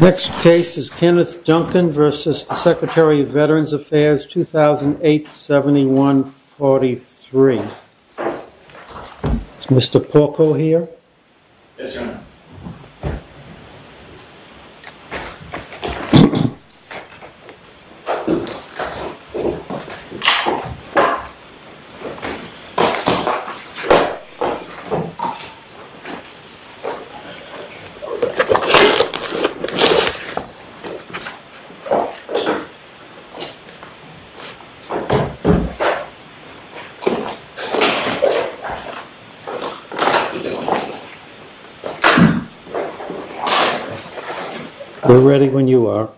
Next case is Kenneth Duncan v. Secretary of Veterans Affairs, 2008-71-43. Is Mr. Porco here? Yes, Your Honor. We're ready when you are.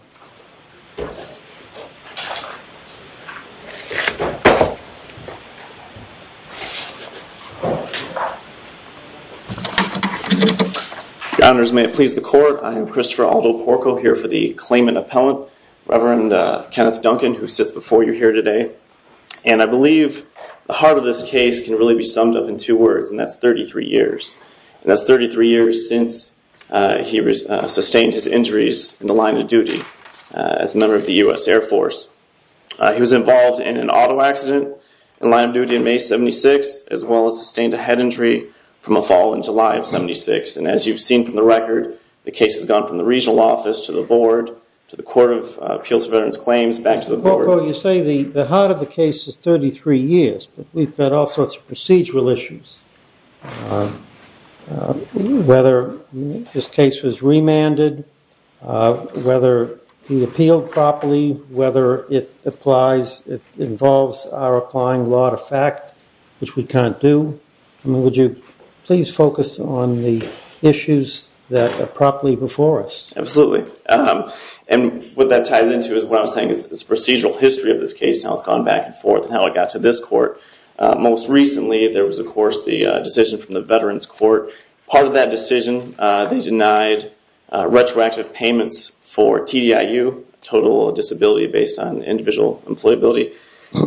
Your Honors, may it please the Court, I am Christopher Aldo Porco here for the claimant appellant, Reverend Kenneth Duncan, who sits before you here today. And I believe the heart of this case can really be summed up in two words, and that's 33 years. That's 33 years since he sustained his injuries in the line of duty as a member of the U.S. Air Force. He was involved in an auto accident in the line of duty in May of 76, as well as sustained a head injury from a fall in July of 76. And as you've seen from the record, the case has gone from the regional office to the board, to the Court of Appeals for Veterans Claims, back to the board. Mr. Porco, you say the heart of the case is 33 years, but we've had all sorts of procedural issues. Whether this case was remanded, whether he appealed properly, whether it involves our applying law to fact, which we can't do, would you please focus on the issues that are properly before us? Absolutely. And what that ties into is what I was saying is the procedural history of this case, how it's gone back and forth, and how it got to this court. Most recently, there was, of course, the decision from the Veterans Court. Part of that decision, they denied retroactive payments for TDIU, total disability based on individual employability.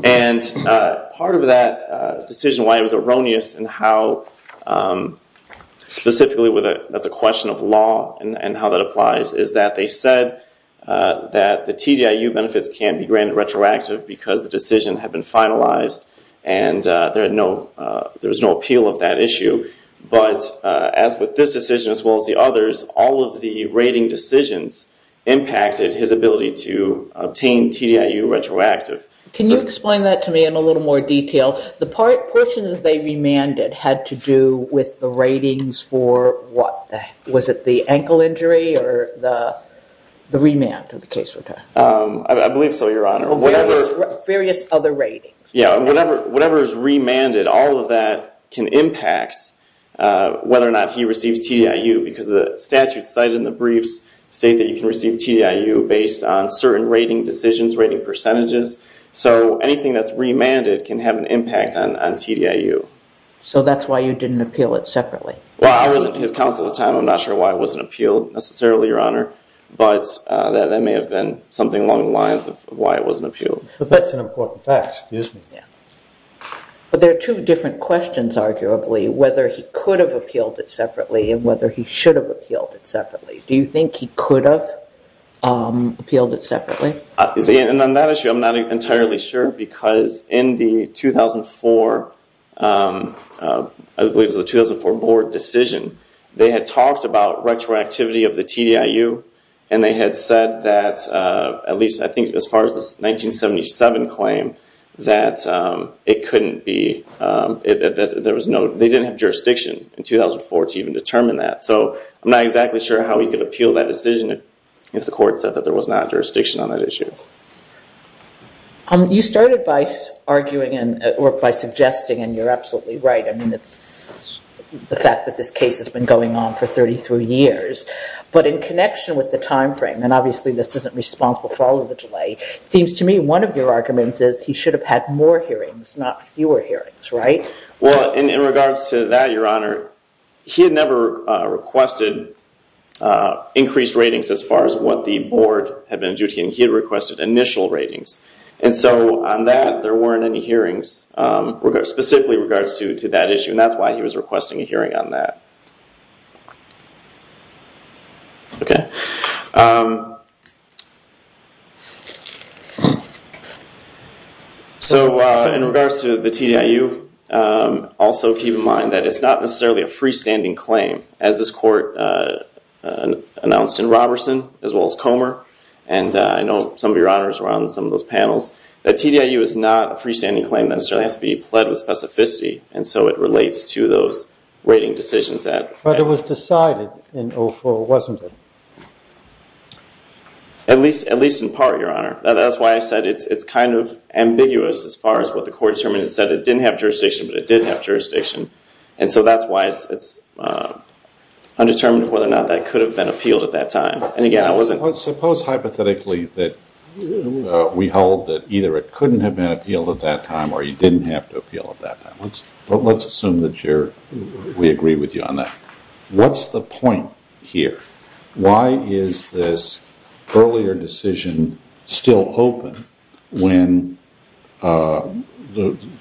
And part of that decision, why it was erroneous, and how specifically that's a question of law and how that applies, is that they said that the TDIU benefits can't be granted retroactive because the decision had been finalized and there was no appeal of that issue. But as with this decision, as well as the others, all of the rating decisions impacted his ability to obtain TDIU retroactive. Can you explain that to me in a little more detail? The portions that they remanded had to do with the ratings for what? Was it the ankle injury or the remand of the case? I believe so, Your Honor. Various other ratings. Yeah. And whatever is remanded, all of that can impact whether or not he receives TDIU because the statute cited in the briefs state that you can receive TDIU based on certain rating decisions, rating percentages. So anything that's remanded can have an impact on TDIU. So that's why you didn't appeal it separately? Well, I was in his counsel at the time. I'm not sure why it wasn't appealed necessarily, Your Honor. But that may have been something along the lines of why it wasn't appealed. But that's an important fact. Excuse me. Yeah. But there are two different questions, arguably, whether he could have appealed it separately and whether he should have appealed it separately. Do you think he could have appealed it separately? On that issue, I'm not entirely sure because in the 2004, I believe it was the 2004 board decision, they had talked about retroactivity of the TDIU. And they had said that, at least I think as far as the 1977 claim, that it couldn't be – that there was no – they didn't have jurisdiction in 2004 to even determine that. So I'm not exactly sure how he could appeal that decision if the court said that there was not jurisdiction on that issue. You started by arguing and – or by suggesting, and you're absolutely right, I mean, it's the fact that this case has been going on for 33 years. But in connection with the timeframe, and obviously this isn't responsible for all of the delay, it seems to me one of your arguments is he should have had more hearings, not fewer hearings, right? Well, in regards to that, Your Honor, he had never requested increased ratings as far as what the board had been adjudicating. He had requested initial ratings. And so on that, there weren't any hearings specifically in regards to that issue. And that's why he was requesting a hearing on that. So in regards to the TDIU, also keep in mind that it's not necessarily a freestanding claim. As this court announced in Roberson, as well as Comer, and I know some of Your Honors were on some of those panels, the TDIU is not a freestanding claim that necessarily has to those rating decisions at. But it was decided in 04, wasn't it? At least in part, Your Honor. That's why I said it's kind of ambiguous as far as what the court determined. It said it didn't have jurisdiction, but it did have jurisdiction. And so that's why it's undetermined whether or not that could have been appealed at that time. And again, I wasn't… Suppose hypothetically that we hold that either it couldn't have been appealed at that time or he didn't have to appeal at that time. Let's assume that we agree with you on that. What's the point here? Why is this earlier decision still open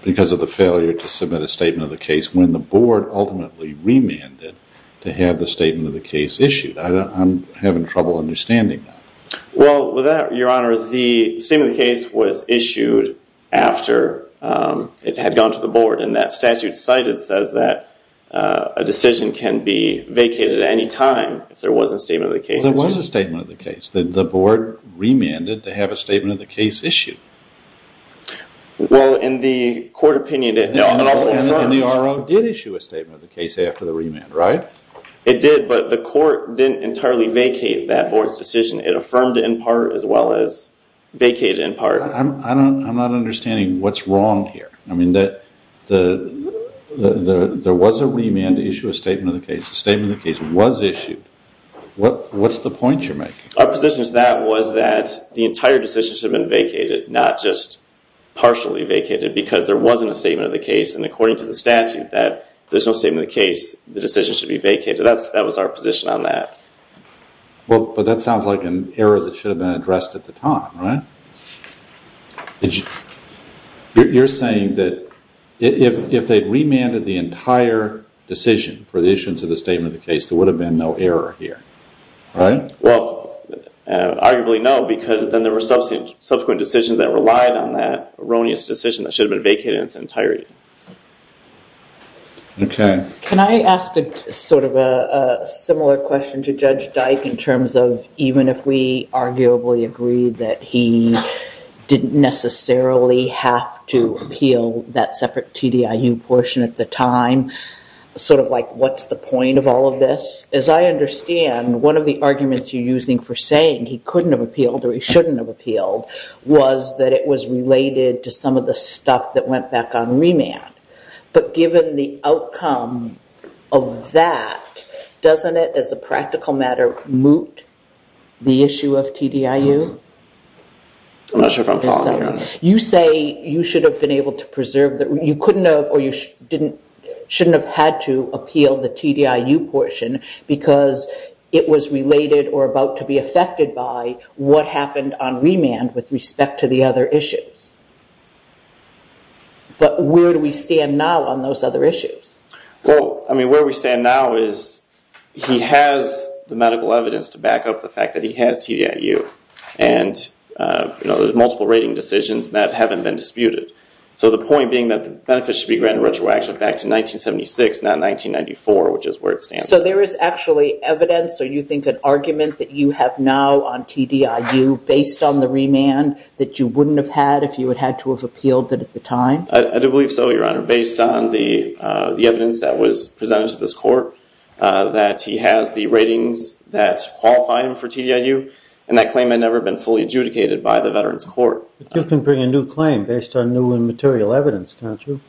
because of the failure to submit a statement of the case when the board ultimately remanded to have the statement of the case issued? I'm having trouble understanding that. Well, with that, Your Honor, the statement of the case was issued after it had gone to the board. And that statute cited says that a decision can be vacated at any time if there was a statement of the case issued. Well, there was a statement of the case. Then the board remanded to have a statement of the case issued. Well, in the court opinion, it also affirmed… And the RO did issue a statement of the case after the remand, right? It did, but the court didn't entirely vacate that board's decision. It affirmed in part as well as vacated in part. I'm not understanding what's wrong here. I mean, there was a remand to issue a statement of the case. The statement of the case was issued. What's the point you're making? Our position to that was that the entire decision should have been vacated, not just partially vacated because there wasn't a statement of the case. And according to the statute that there's no statement of the case, the decision should be vacated. That was our position on that. Well, but that sounds like an error that should have been addressed at the time, right? You're saying that if they'd remanded the entire decision for the issuance of the statement of the case, there would have been no error here, right? Well, arguably no, because then there were subsequent decisions that relied on that erroneous decision that should have been vacated in its entirety. Okay. Can I ask a sort of a similar question to Judge Dyke in terms of even if we arguably agree that he didn't necessarily have to appeal that separate TDIU portion at the time, sort of like what's the point of all of this? As I understand, one of the arguments you're using for saying he couldn't have appealed or he shouldn't have appealed was that it was related to some of the stuff that went back on remand. But given the outcome of that, doesn't it, as a practical matter, moot the issue of TDIU? I'm not sure if I'm following you on that. You say you should have been able to preserve that. You couldn't have or you shouldn't have had to appeal the TDIU portion because it was related or about to be affected by what happened on remand with respect to the other issues. But where do we stand now on those other issues? Well, I mean, where we stand now is he has the medical evidence to back up the fact that he has TDIU and there's multiple rating decisions that haven't been disputed. So the point being that the benefits should be granted retroactively back to 1976, not 1994, which is where it stands. So there is actually evidence or you think an argument that you have now on TDIU based on the remand that you wouldn't have had if you had had to have appealed it at the time? I do believe so, Your Honor, based on the evidence that was presented to this court that he has the ratings that qualify him for TDIU and that claim had never been fully adjudicated by the Veterans Court. But you can bring a new claim based on new and material evidence, can't you?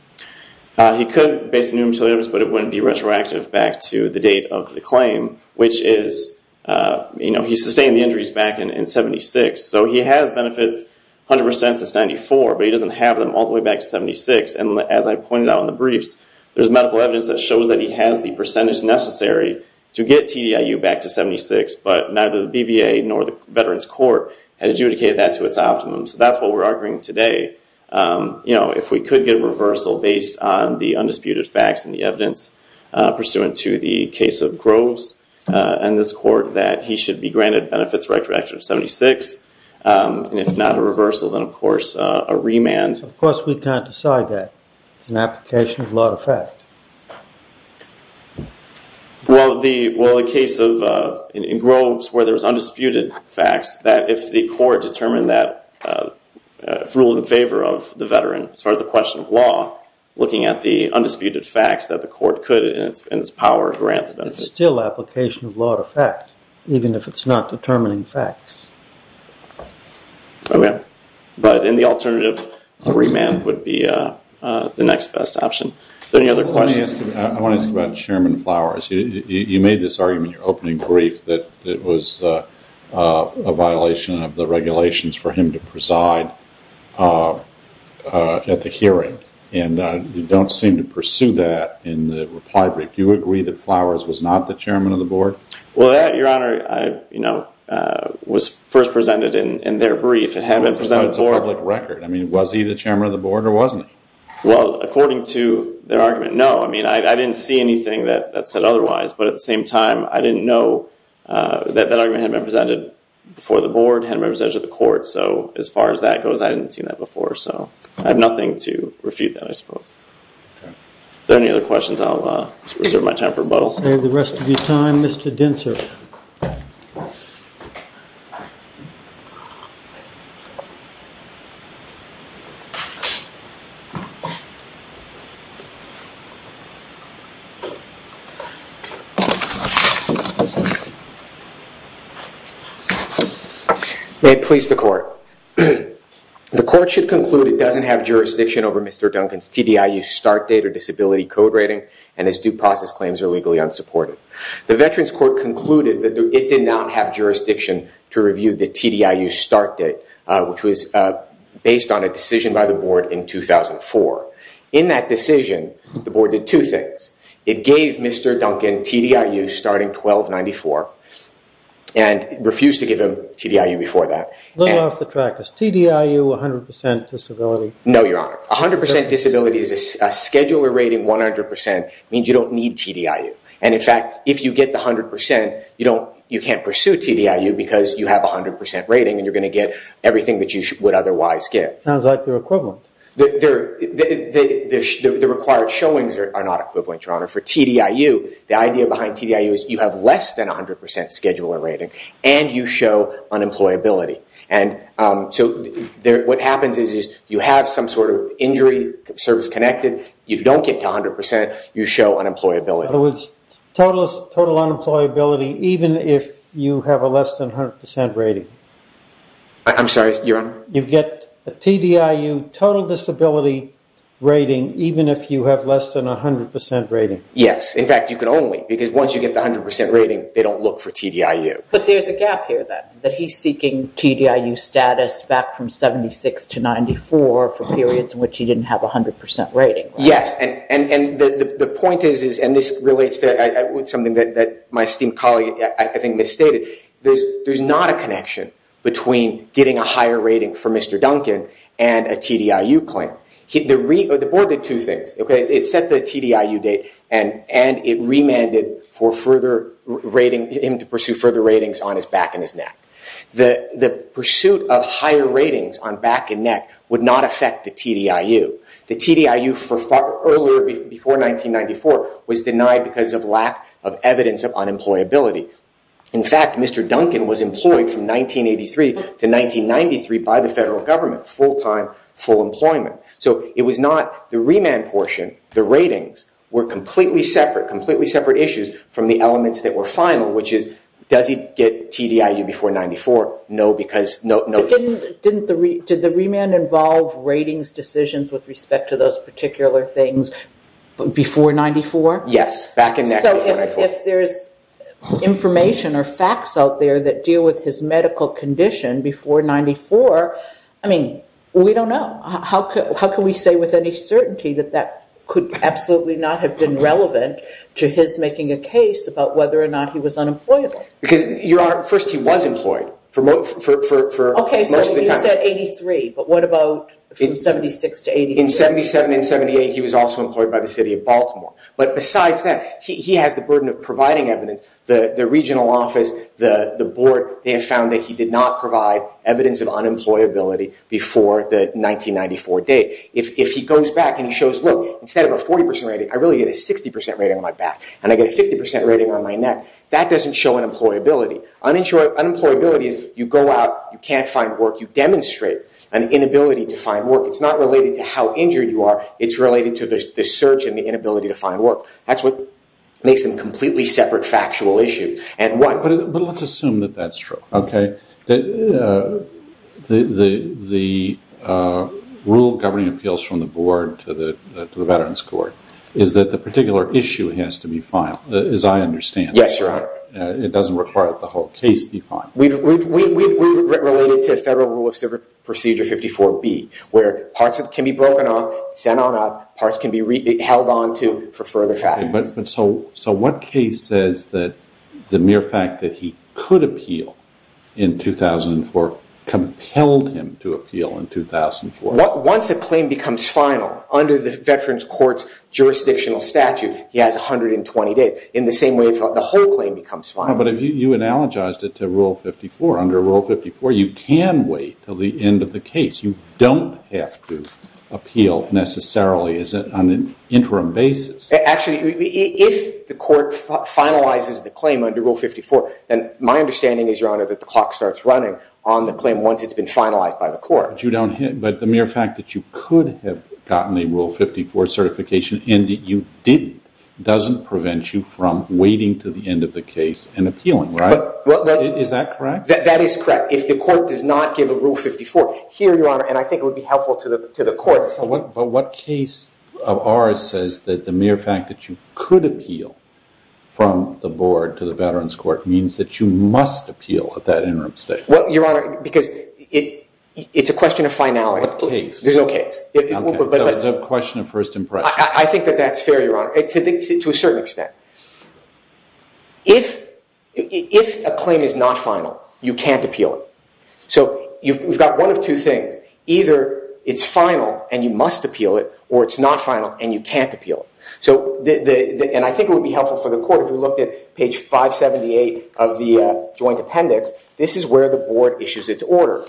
He could based on new material evidence, but it wouldn't be retroactive back to the date of the claim, which is, you know, he sustained the injuries back in 1976. So he has benefits 100% since 94, but he doesn't have them all the way back to 76. And as I pointed out in the briefs, there's medical evidence that shows that he has the percentage necessary to get TDIU back to 76, but neither the BVA nor the Veterans Court had adjudicated that to its optimum. So that's what we're arguing today. You know, if we could get a reversal based on the undisputed facts and the evidence pursuant to the case of Groves and this court that he should be granted benefits retroactive to 76. And if not a reversal, then, of course, a remand. Of course, we can't decide that. It's an application of law to effect. Well, the case of Groves where there's undisputed facts that if the court determined that rule in favor of the veteran as far as the question of law, looking at the undisputed facts that the court could in its power grant benefits. It's still application of law to effect, even if it's not determining facts. Okay. But in the alternative, a remand would be the next best option. Any other questions? I want to ask you about Chairman Flowers. You made this argument in your opening brief that it was a violation of the regulations for him to preside at the hearing. And you don't seem to pursue that in the reply brief. Do you agree that Flowers was not the Chairman of the Board? Well, that, Your Honor, was first presented in their brief. It hadn't been presented before. But it's a public record. I mean, was he the Chairman of the Board or wasn't he? Well, according to their argument, no. I mean, I didn't see anything that said otherwise. But at the same time, I didn't know that that argument had been presented before the Board, had been presented to the court. So as far as that goes, I didn't see that before. So I have nothing to refute that, I suppose. Any other questions? I'll reserve my time for rebuttal. We'll save the rest of your time, Mr. Dinser. May it please the court. The court should conclude it doesn't have jurisdiction over Mr. Duncan's TDIU start date or disability code rating and his due process claims are legally unsupported. The Veterans Court concluded that it did not have jurisdiction to review the TDIU start date, which was based on a decision by the Board in 2004. In that decision, the Board did two things. It gave Mr. Duncan TDIU starting 1294 and refused to give him TDIU before that. A little off the track. Is TDIU a 100% disability? No, Your Honor. A 100% disability is a scheduler rating 100%. It means you don't need TDIU. And in fact, if you get the 100%, you can't pursue TDIU because you have a 100% rating and you're going to get everything that you would otherwise get. It sounds like they're equivalent. The required showings are not equivalent, Your Honor. For TDIU, the idea behind TDIU is you have less than a 100% scheduler rating and you show unemployability. What happens is you have some sort of injury, service-connected, you don't get to 100%, you show unemployability. In other words, total unemployability even if you have a less than 100% rating. I'm sorry, Your Honor? You get a TDIU total disability rating even if you have less than a 100% rating. Yes. In fact, you can only because once you get the 100% rating, they don't look for TDIU. But there's a gap here then. That he's seeking TDIU status back from 76 to 94 for periods in which he didn't have a 100% rating. Yes. And the point is, and this relates to something that my esteemed colleague, I think, misstated. There's not a connection between getting a higher rating for Mr. Duncan and a TDIU claim. The board did two things. It set the TDIU date and it remanded him to pursue further ratings on his back and his neck. The pursuit of higher ratings on back and neck would not affect the TDIU. The TDIU for far earlier, before 1994, was denied because of lack of evidence of unemployability. In fact, Mr. Duncan was employed from 1983 to 1993 by the federal government, full-time, full employment. So, it was not the remand portion. The ratings were completely separate, completely separate issues from the elements that were final, which is, does he get TDIU before 94? No. Did the remand involve ratings decisions with respect to those particular things before 94? Yes. Back and neck before 94. So, if there's information or facts out there that deal with his medical condition before 94, I mean, we don't know. How can we say with any certainty that that could absolutely not have been relevant to his making a case about whether or not he was unemployable? Because, Your Honor, first, he was employed for most of the time. Okay, so you said 83, but what about from 76 to 83? In 77 and 78, he was also employed by the city of Baltimore. But besides that, he has the burden of providing evidence. The regional office, the board, they have found that he did not provide evidence of If he goes back and he shows, look, instead of a 40% rating, I really get a 60% rating on my back, and I get a 50% rating on my neck, that doesn't show unemployability. Unemployability is you go out, you can't find work. You demonstrate an inability to find work. It's not related to how injured you are. It's related to the search and the inability to find work. That's what makes them completely separate factual issues. But let's assume that that's true, okay? The rule governing appeals from the board to the Veterans Court is that the particular issue has to be filed, as I understand it. Yes, Your Honor. It doesn't require that the whole case be filed. We relate it to Federal Rule of Procedure 54B, where parts can be broken off, sent on up, parts can be held on to for further fact. So what case says that the mere fact that he could appeal in 2004 compelled him to appeal in 2004? Once a claim becomes final, under the Veterans Court's jurisdictional statute, he has 120 days, in the same way the whole claim becomes final. But you analogized it to Rule 54. Under Rule 54, you can wait until the end of the case. You don't have to appeal necessarily on an interim basis. Actually, if the court finalizes the claim under Rule 54, then my understanding is, Your Honor, that the clock starts running on the claim once it's been finalized by the court. But the mere fact that you could have gotten a Rule 54 certification and that you didn't doesn't prevent you from waiting to the end of the case and appealing, right? Is that correct? That is correct. If the court does not give a Rule 54 here, Your Honor, and I think it would be helpful to the court. But what case of ours says that the mere fact that you could appeal from the board to the Veterans Court means that you must appeal at that interim stage? Well, Your Honor, because it's a question of finality. What case? There's no case. So it's a question of first impression. I think that that's fair, Your Honor, to a certain extent. If a claim is not final, you can't appeal it. So you've got one of two things. Either it's final and you must appeal it, or it's not final and you can't appeal it. And I think it would be helpful for the court if we looked at page 578 of the joint appendix. This is where the board issues its order.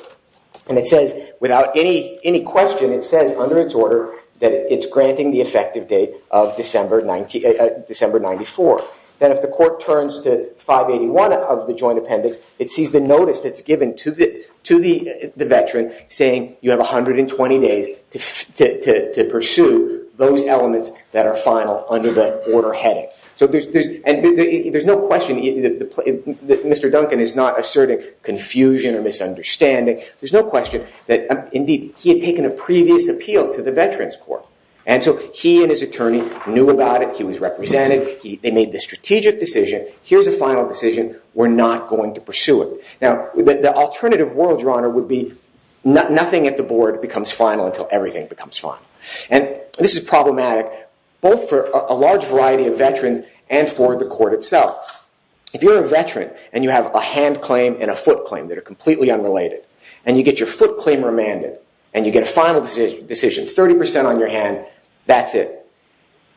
And it says, without any question, it says under its order that it's granting the effective date of December 94. Then if the court turns to 581 of the joint appendix, it sees the notice that's given to the veteran saying you have 120 days to pursue those elements that are final under the order heading. And there's no question that Mr. Duncan is not asserting confusion or misunderstanding. There's no question that, indeed, he had taken a previous appeal to the Veterans Court. And so he and his attorney knew about it. He was represented. They made the strategic decision. Here's a final decision. We're not going to pursue it. Now, the alternative world, Your Honor, would be nothing at the board becomes final until everything becomes final. And this is problematic both for a large variety of veterans and for the court itself. If you're a veteran and you have a hand claim and a foot claim that are completely unrelated, and you get your foot claim remanded, and you get a final decision, 30% on your hand, that's it.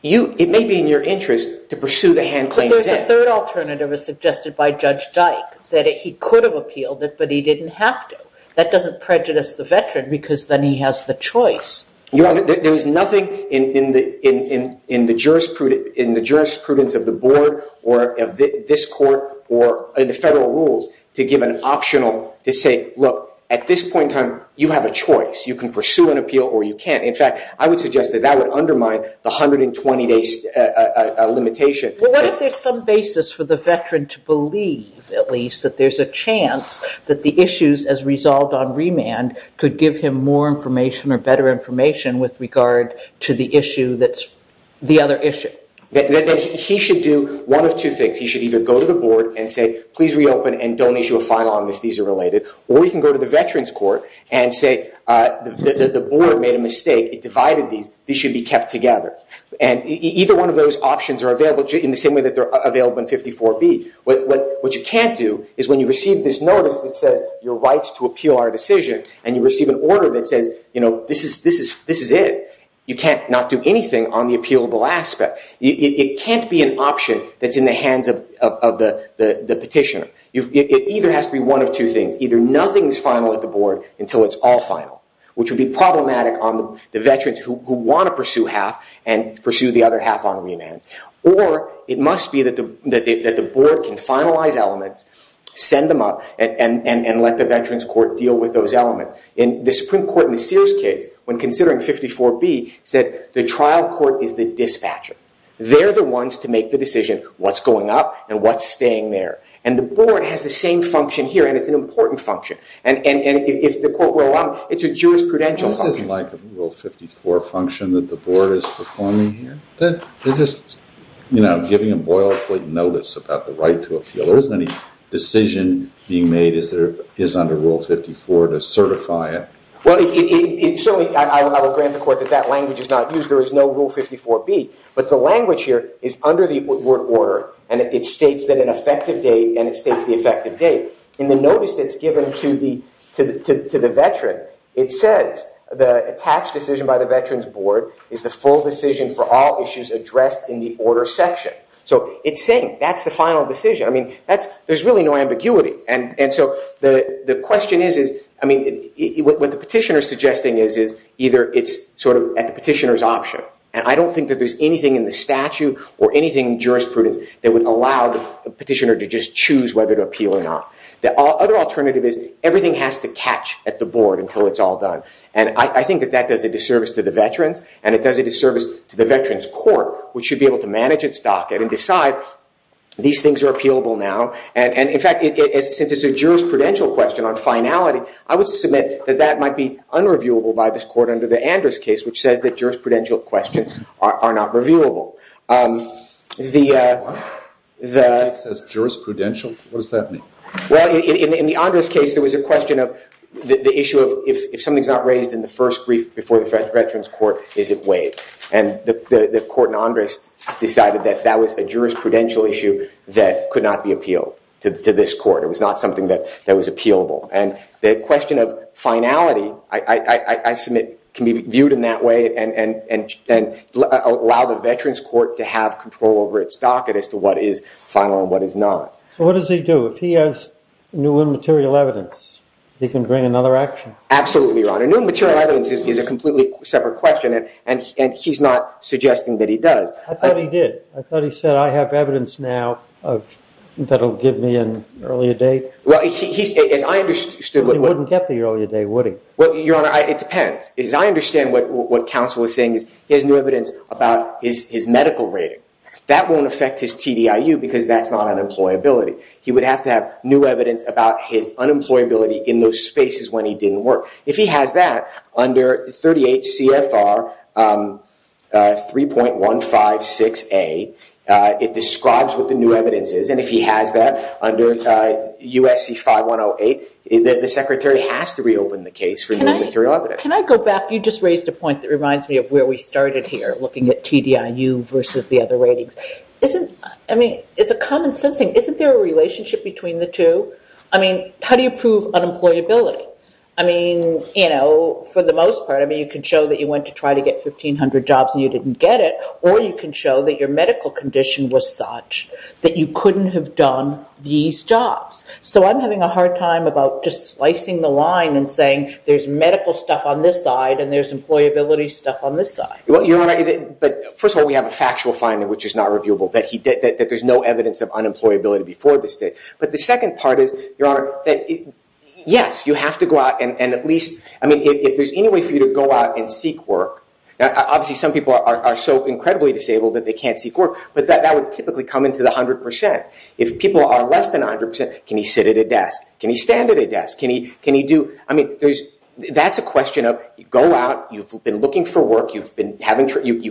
It may be in your interest to pursue the hand claim. There's a third alternative, as suggested by Judge Dyke, that he could have appealed it, but he didn't have to. That doesn't prejudice the veteran because then he has the choice. Your Honor, there is nothing in the jurisprudence of the board or this court or the federal rules to give an optional to say, look, at this point in time, you have a choice. You can pursue an appeal or you can't. In fact, I would suggest that that would undermine the 120-day limitation. Well, what if there's some basis for the veteran to believe, at least, that there's a chance that the issues as resolved on remand could give him more information or better information with regard to the issue that's the other issue? He should do one of two things. He should either go to the board and say, please reopen and don't issue a final on this. These are related. Or he can go to the veterans court and say the board made a mistake. It divided these. These should be kept together. And either one of those options are available in the same way that they're available in 54B. What you can't do is when you receive this notice that says your rights to appeal our decision and you receive an order that says, you know, this is it, you can't not do anything on the appealable aspect. It can't be an option that's in the hands of the petitioner. It either has to be one of two things. Either nothing is final at the board until it's all final, which would be problematic on the veterans who want to pursue half and pursue the other half on remand. Or it must be that the board can finalize elements, send them up, and let the veterans court deal with those elements. The Supreme Court in the Sears case, when considering 54B, said the trial court is the dispatcher. They're the ones to make the decision what's going up and what's staying there. And the board has the same function here, and it's an important function. And if the court were allowed, it's a jurisprudential function. This isn't like a Rule 54 function that the board is performing here. They're just, you know, giving a boilerplate notice about the right to appeal. There isn't any decision being made that is under Rule 54 to certify it. Well, it certainly, I would grant the court that that language is not used. There is no Rule 54B, but the language here is under the word order, and it states that an effective date, and it states the effective date. In the notice that's given to the veteran, it says the tax decision by the veterans board is the full decision for all issues addressed in the order section. So it's saying that's the final decision. I mean, there's really no ambiguity. And so the question is, I mean, what the petitioner is suggesting is either it's sort of at the petitioner's option, and I don't think that there's anything in the statute or anything in jurisprudence that would allow the petitioner to just choose whether to appeal or not. The other alternative is everything has to catch at the board until it's all done. And I think that that does a disservice to the veterans, and it does a disservice to the veterans court, which should be able to manage its docket and decide these things are appealable now. And in fact, since it's a jurisprudential question on finality, I would submit that that might be unreviewable by this court under the Andrus case, which says that jurisprudential questions are not reviewable. What? It says jurisprudential? What does that mean? Well, in the Andrus case, there was a question of the issue of if something's not raised in the first brief before the veterans court, is it waived? And the court in Andrus decided that that was a jurisprudential issue that could not be appealed to this court. It was not something that was appealable. And the question of finality, I submit, can be viewed in that way and allow the veterans court to have control over its docket as to what is final and what is not. So what does he do? If he has new and material evidence, he can bring another action? Absolutely, Your Honor. New and material evidence is a completely separate question, and he's not suggesting that he does. I thought he did. I thought he said, I have evidence now that will give me an earlier date. Well, as I understood... But he wouldn't get the earlier date, would he? Well, Your Honor, it depends. As I understand what counsel is saying, he has new evidence about his medical rating. That won't affect his TDIU because that's not unemployability. He would have to have new evidence about his unemployability in those spaces when he didn't work. If he has that, under 38 CFR 3.156A, it describes what the new evidence is, and if he has that under USC 5108, the Secretary has to reopen the case for new material evidence. Your Honor, can I go back? You just raised a point that reminds me of where we started here, looking at TDIU versus the other ratings. I mean, it's a common sense thing. Isn't there a relationship between the two? I mean, how do you prove unemployability? I mean, you know, for the most part, I mean, you can show that you went to try to get 1,500 jobs and you didn't get it, or you can show that your medical condition was such that you couldn't have done these jobs. So I'm having a hard time about just slicing the line and saying there's medical stuff on this side and there's employability stuff on this side. Well, Your Honor, but first of all, we have a factual finding, which is not reviewable, that there's no evidence of unemployability before this date. But the second part is, Your Honor, yes, you have to go out and at least, I mean, if there's any way for you to go out and seek work, obviously some people are so incredibly disabled that they can't seek work, but that would typically come into the 100%. If people are less than 100%, can he sit at a desk? Can he stand at a desk? Can he do... I mean, that's a question of go out, you've been looking for work, you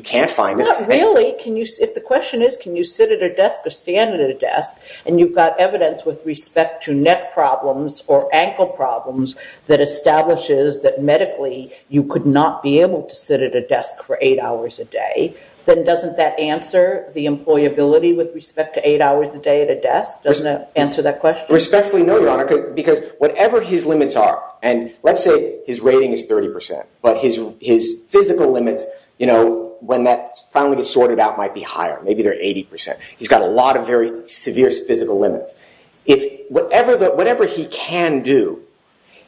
can't find it. Not really. If the question is can you sit at a desk or stand at a desk and you've got evidence with respect to neck problems or ankle problems that establishes that medically you could not be able to sit at a desk for 8 hours a day, then doesn't that answer the employability with respect to 8 hours a day at a desk? Doesn't that answer that question? Respectfully, no, Your Honor, because whatever his limits are, and let's say his rating is 30%, but his physical limits, you know, when that finally gets sorted out might be higher. Maybe they're 80%. He's got a lot of very severe physical limits. Whatever he can do,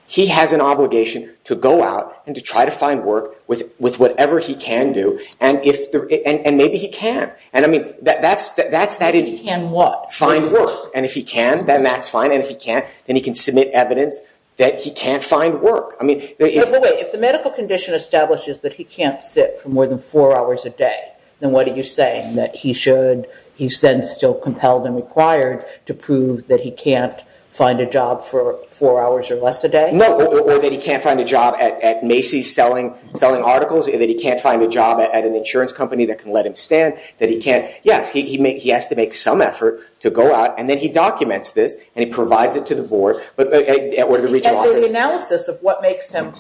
he has an obligation to go out and to try to find work with whatever he can do, and maybe he can. And, I mean, that's that... He can what? Find work. And if he can, then that's fine, and if he can't, then he can submit evidence that he can't find work. If the medical condition establishes that he can't sit for more than 4 hours a day, then what are you saying? That he should... He's then still compelled and required to prove that he can't find a job for 4 hours or less a day? No, or that he can't find a job at Macy's selling articles, that he can't find a job at an insurance company that can let him stand, that he can't... Yes, he has to make some effort to go out, and then he documents this, and he provides it to the board, or the regional office. The analysis of what makes him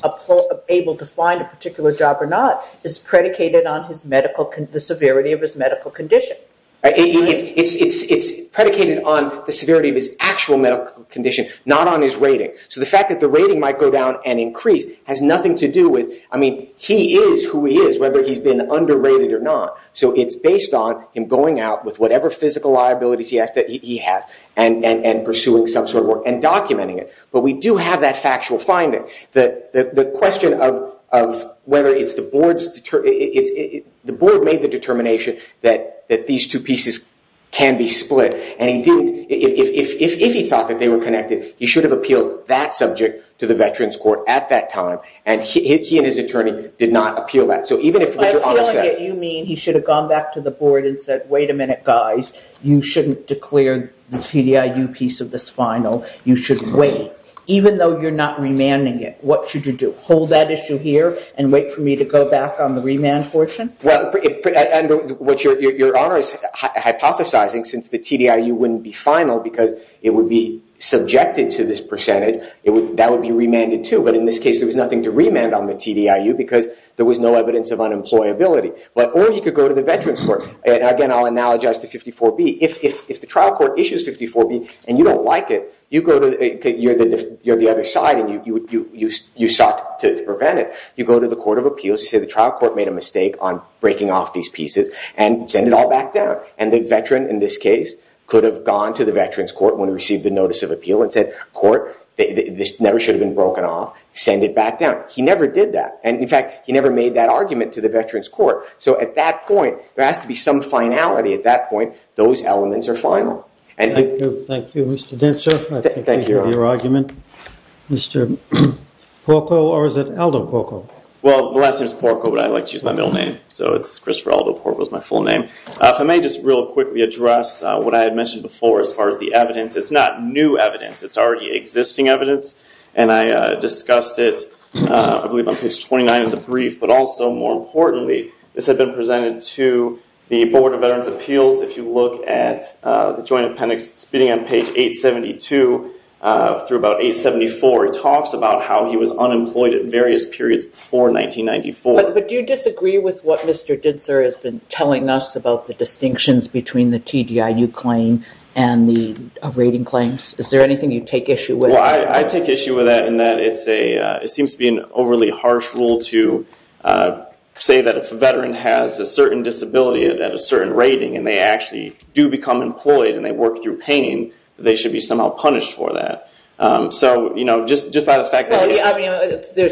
able to find a particular job or not is predicated on the severity of his medical condition. It's predicated on the severity of his actual medical condition, not on his rating. So the fact that the rating might go down and increase has nothing to do with... I mean, he is who he is, whether he's been underrated or not. So it's based on him going out with whatever physical liabilities he has, and pursuing some sort of work, and documenting it. But we do have that factual finding. The question of whether it's the board's... The board made the determination that these two pieces can be split, and if he thought that they were connected, he should have appealed that subject to the Veterans Court at that time, and he and his attorney did not appeal that. So even if... You mean he should have gone back to the board and said, wait a minute, guys. You shouldn't declare the TDIU piece of this final. You should wait. Even though you're not remanding it, what should you do? Hold that issue here and wait for me to go back on the remand portion? Well, your Honor is hypothesizing since the TDIU wouldn't be final because it would be subjected to this percentage, that would be remanded too. But in this case, there was nothing to remand on the TDIU because there was no evidence of unemployability. Or he could go to the Veterans Court. Again, I'll analogize to 54B. If the trial court issues 54B and you don't like it, you're the other side and you sought to prevent it. You go to the Court of Appeals, you say the trial court made a mistake on breaking off these pieces, and send it all back down. And the veteran in this case could have gone to the Veterans Court when he received the notice of appeal and said, court, this never should have been broken off. Send it back down. He never did that. And in fact, he never made that argument to the Veterans Court. So at that point, there has to be some finality. At that point, those elements are final. Thank you, Mr. Dentzer. I think we hear your argument. Mr. Porco, or is it Aldo Porco? Well, the last name is Porco, but I like to use my middle name. So it's Christopher Aldo Porco is my full name. If I may just real quickly address what I had mentioned before as far as the evidence. It's not new evidence. It's already existing evidence. And I discussed it, I believe on page 29 of the brief. But also, more importantly, this had been presented to the Board of Veterans' Appeals. If you look at the Joint Appendix, beginning on page 872 through about 874, it talks about how he was unemployed at various periods before 1994. But do you disagree with what Mr. Dentzer has been telling us about the distinctions between the TDIU claim and the rating claims? Is there anything you take issue with? Well, I take issue with that in that it seems to be an overly harsh rule to say that if a veteran has a certain disability at a certain rating and they actually do become employed and they work through pain, that they should be somehow punished for that. So, you know, just by the fact that... Well, I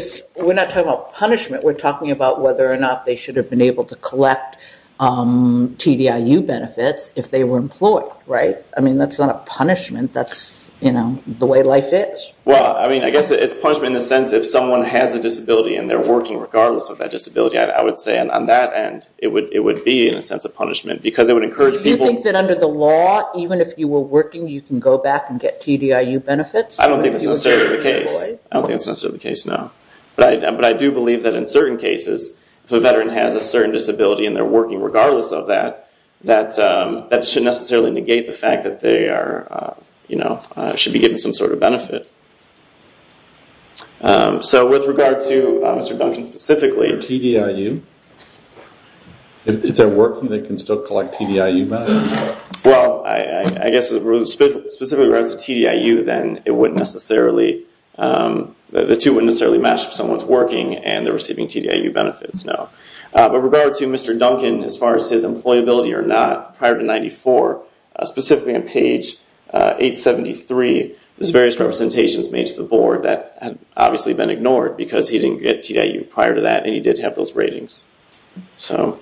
mean, we're not talking about punishment. We're talking about whether or not they should have been able to collect TDIU benefits if they were employed, right? I mean, that's not a punishment. That's, you know, the way life is. Well, I mean, I guess it's punishment in the sense that if someone has a disability and they're working regardless of that disability, I would say on that end, it would be in a sense a punishment because it would encourage people... So you think that under the law, even if you were working, you can go back and get TDIU benefits? I don't think that's necessarily the case. I don't think that's necessarily the case, no. But I do believe that in certain cases, if a veteran has a certain disability and they're working regardless of that, that should necessarily negate the fact that they are, you know, should be getting some sort of benefit. So with regard to Mr. Duncan specifically... For TDIU, if they're working, they can still collect TDIU benefits? Well, I guess specifically for TDIU, then it wouldn't necessarily... the two wouldn't necessarily match if someone's working and they're receiving TDIU benefits, no. With regard to Mr. Duncan, as far as his employability or not, prior to 94, specifically on page 873, there's various representations made to the board that had obviously been ignored because he didn't get TDIU prior to that and he did have those ratings. So...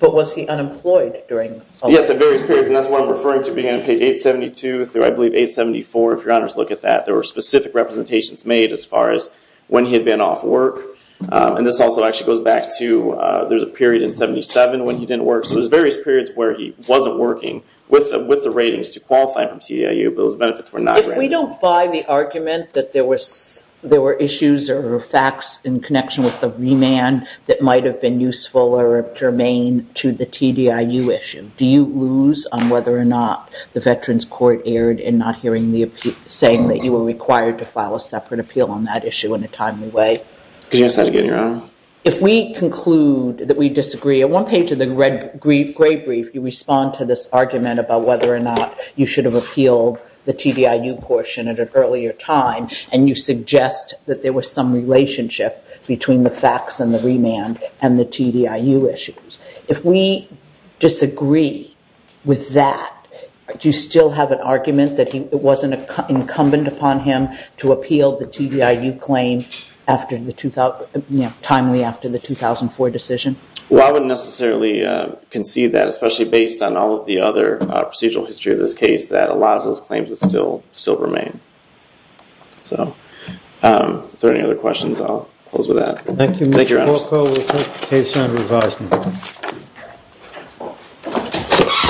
But was he unemployed during... Yes, at various periods, and that's what I'm referring to being on page 872 through, I believe, 874, if your honors look at that. There were specific representations made as far as when he had been off work. And this also actually goes back to there's a period in 77 when he didn't work. So there's various periods where he wasn't working with the ratings to qualify for TDIU, but those benefits were not granted. If we don't buy the argument that there were... there were issues or facts in connection with the remand that might have been useful or germane to the TDIU issue, do you lose on whether or not the Veterans Court erred in not hearing the appeal... saying that you were required to file a separate appeal on that issue in a timely way? Could you say that again, Your Honor? If we conclude that we disagree, on one page of the gray brief, you respond to this argument about whether or not you should have appealed the TDIU portion at an earlier time and you suggest that there was some relationship between the facts and the remand and the TDIU issues. If we disagree with that, do you still have an argument that it wasn't incumbent upon him to appeal the TDIU claim timely after the 2004 decision? Well, I wouldn't necessarily concede that, especially based on all of the other procedural history of this case, that a lot of those claims would still remain. So, if there are any other questions, I'll close with that. Thank you, Mr. Porco. Thank you, Your Honor.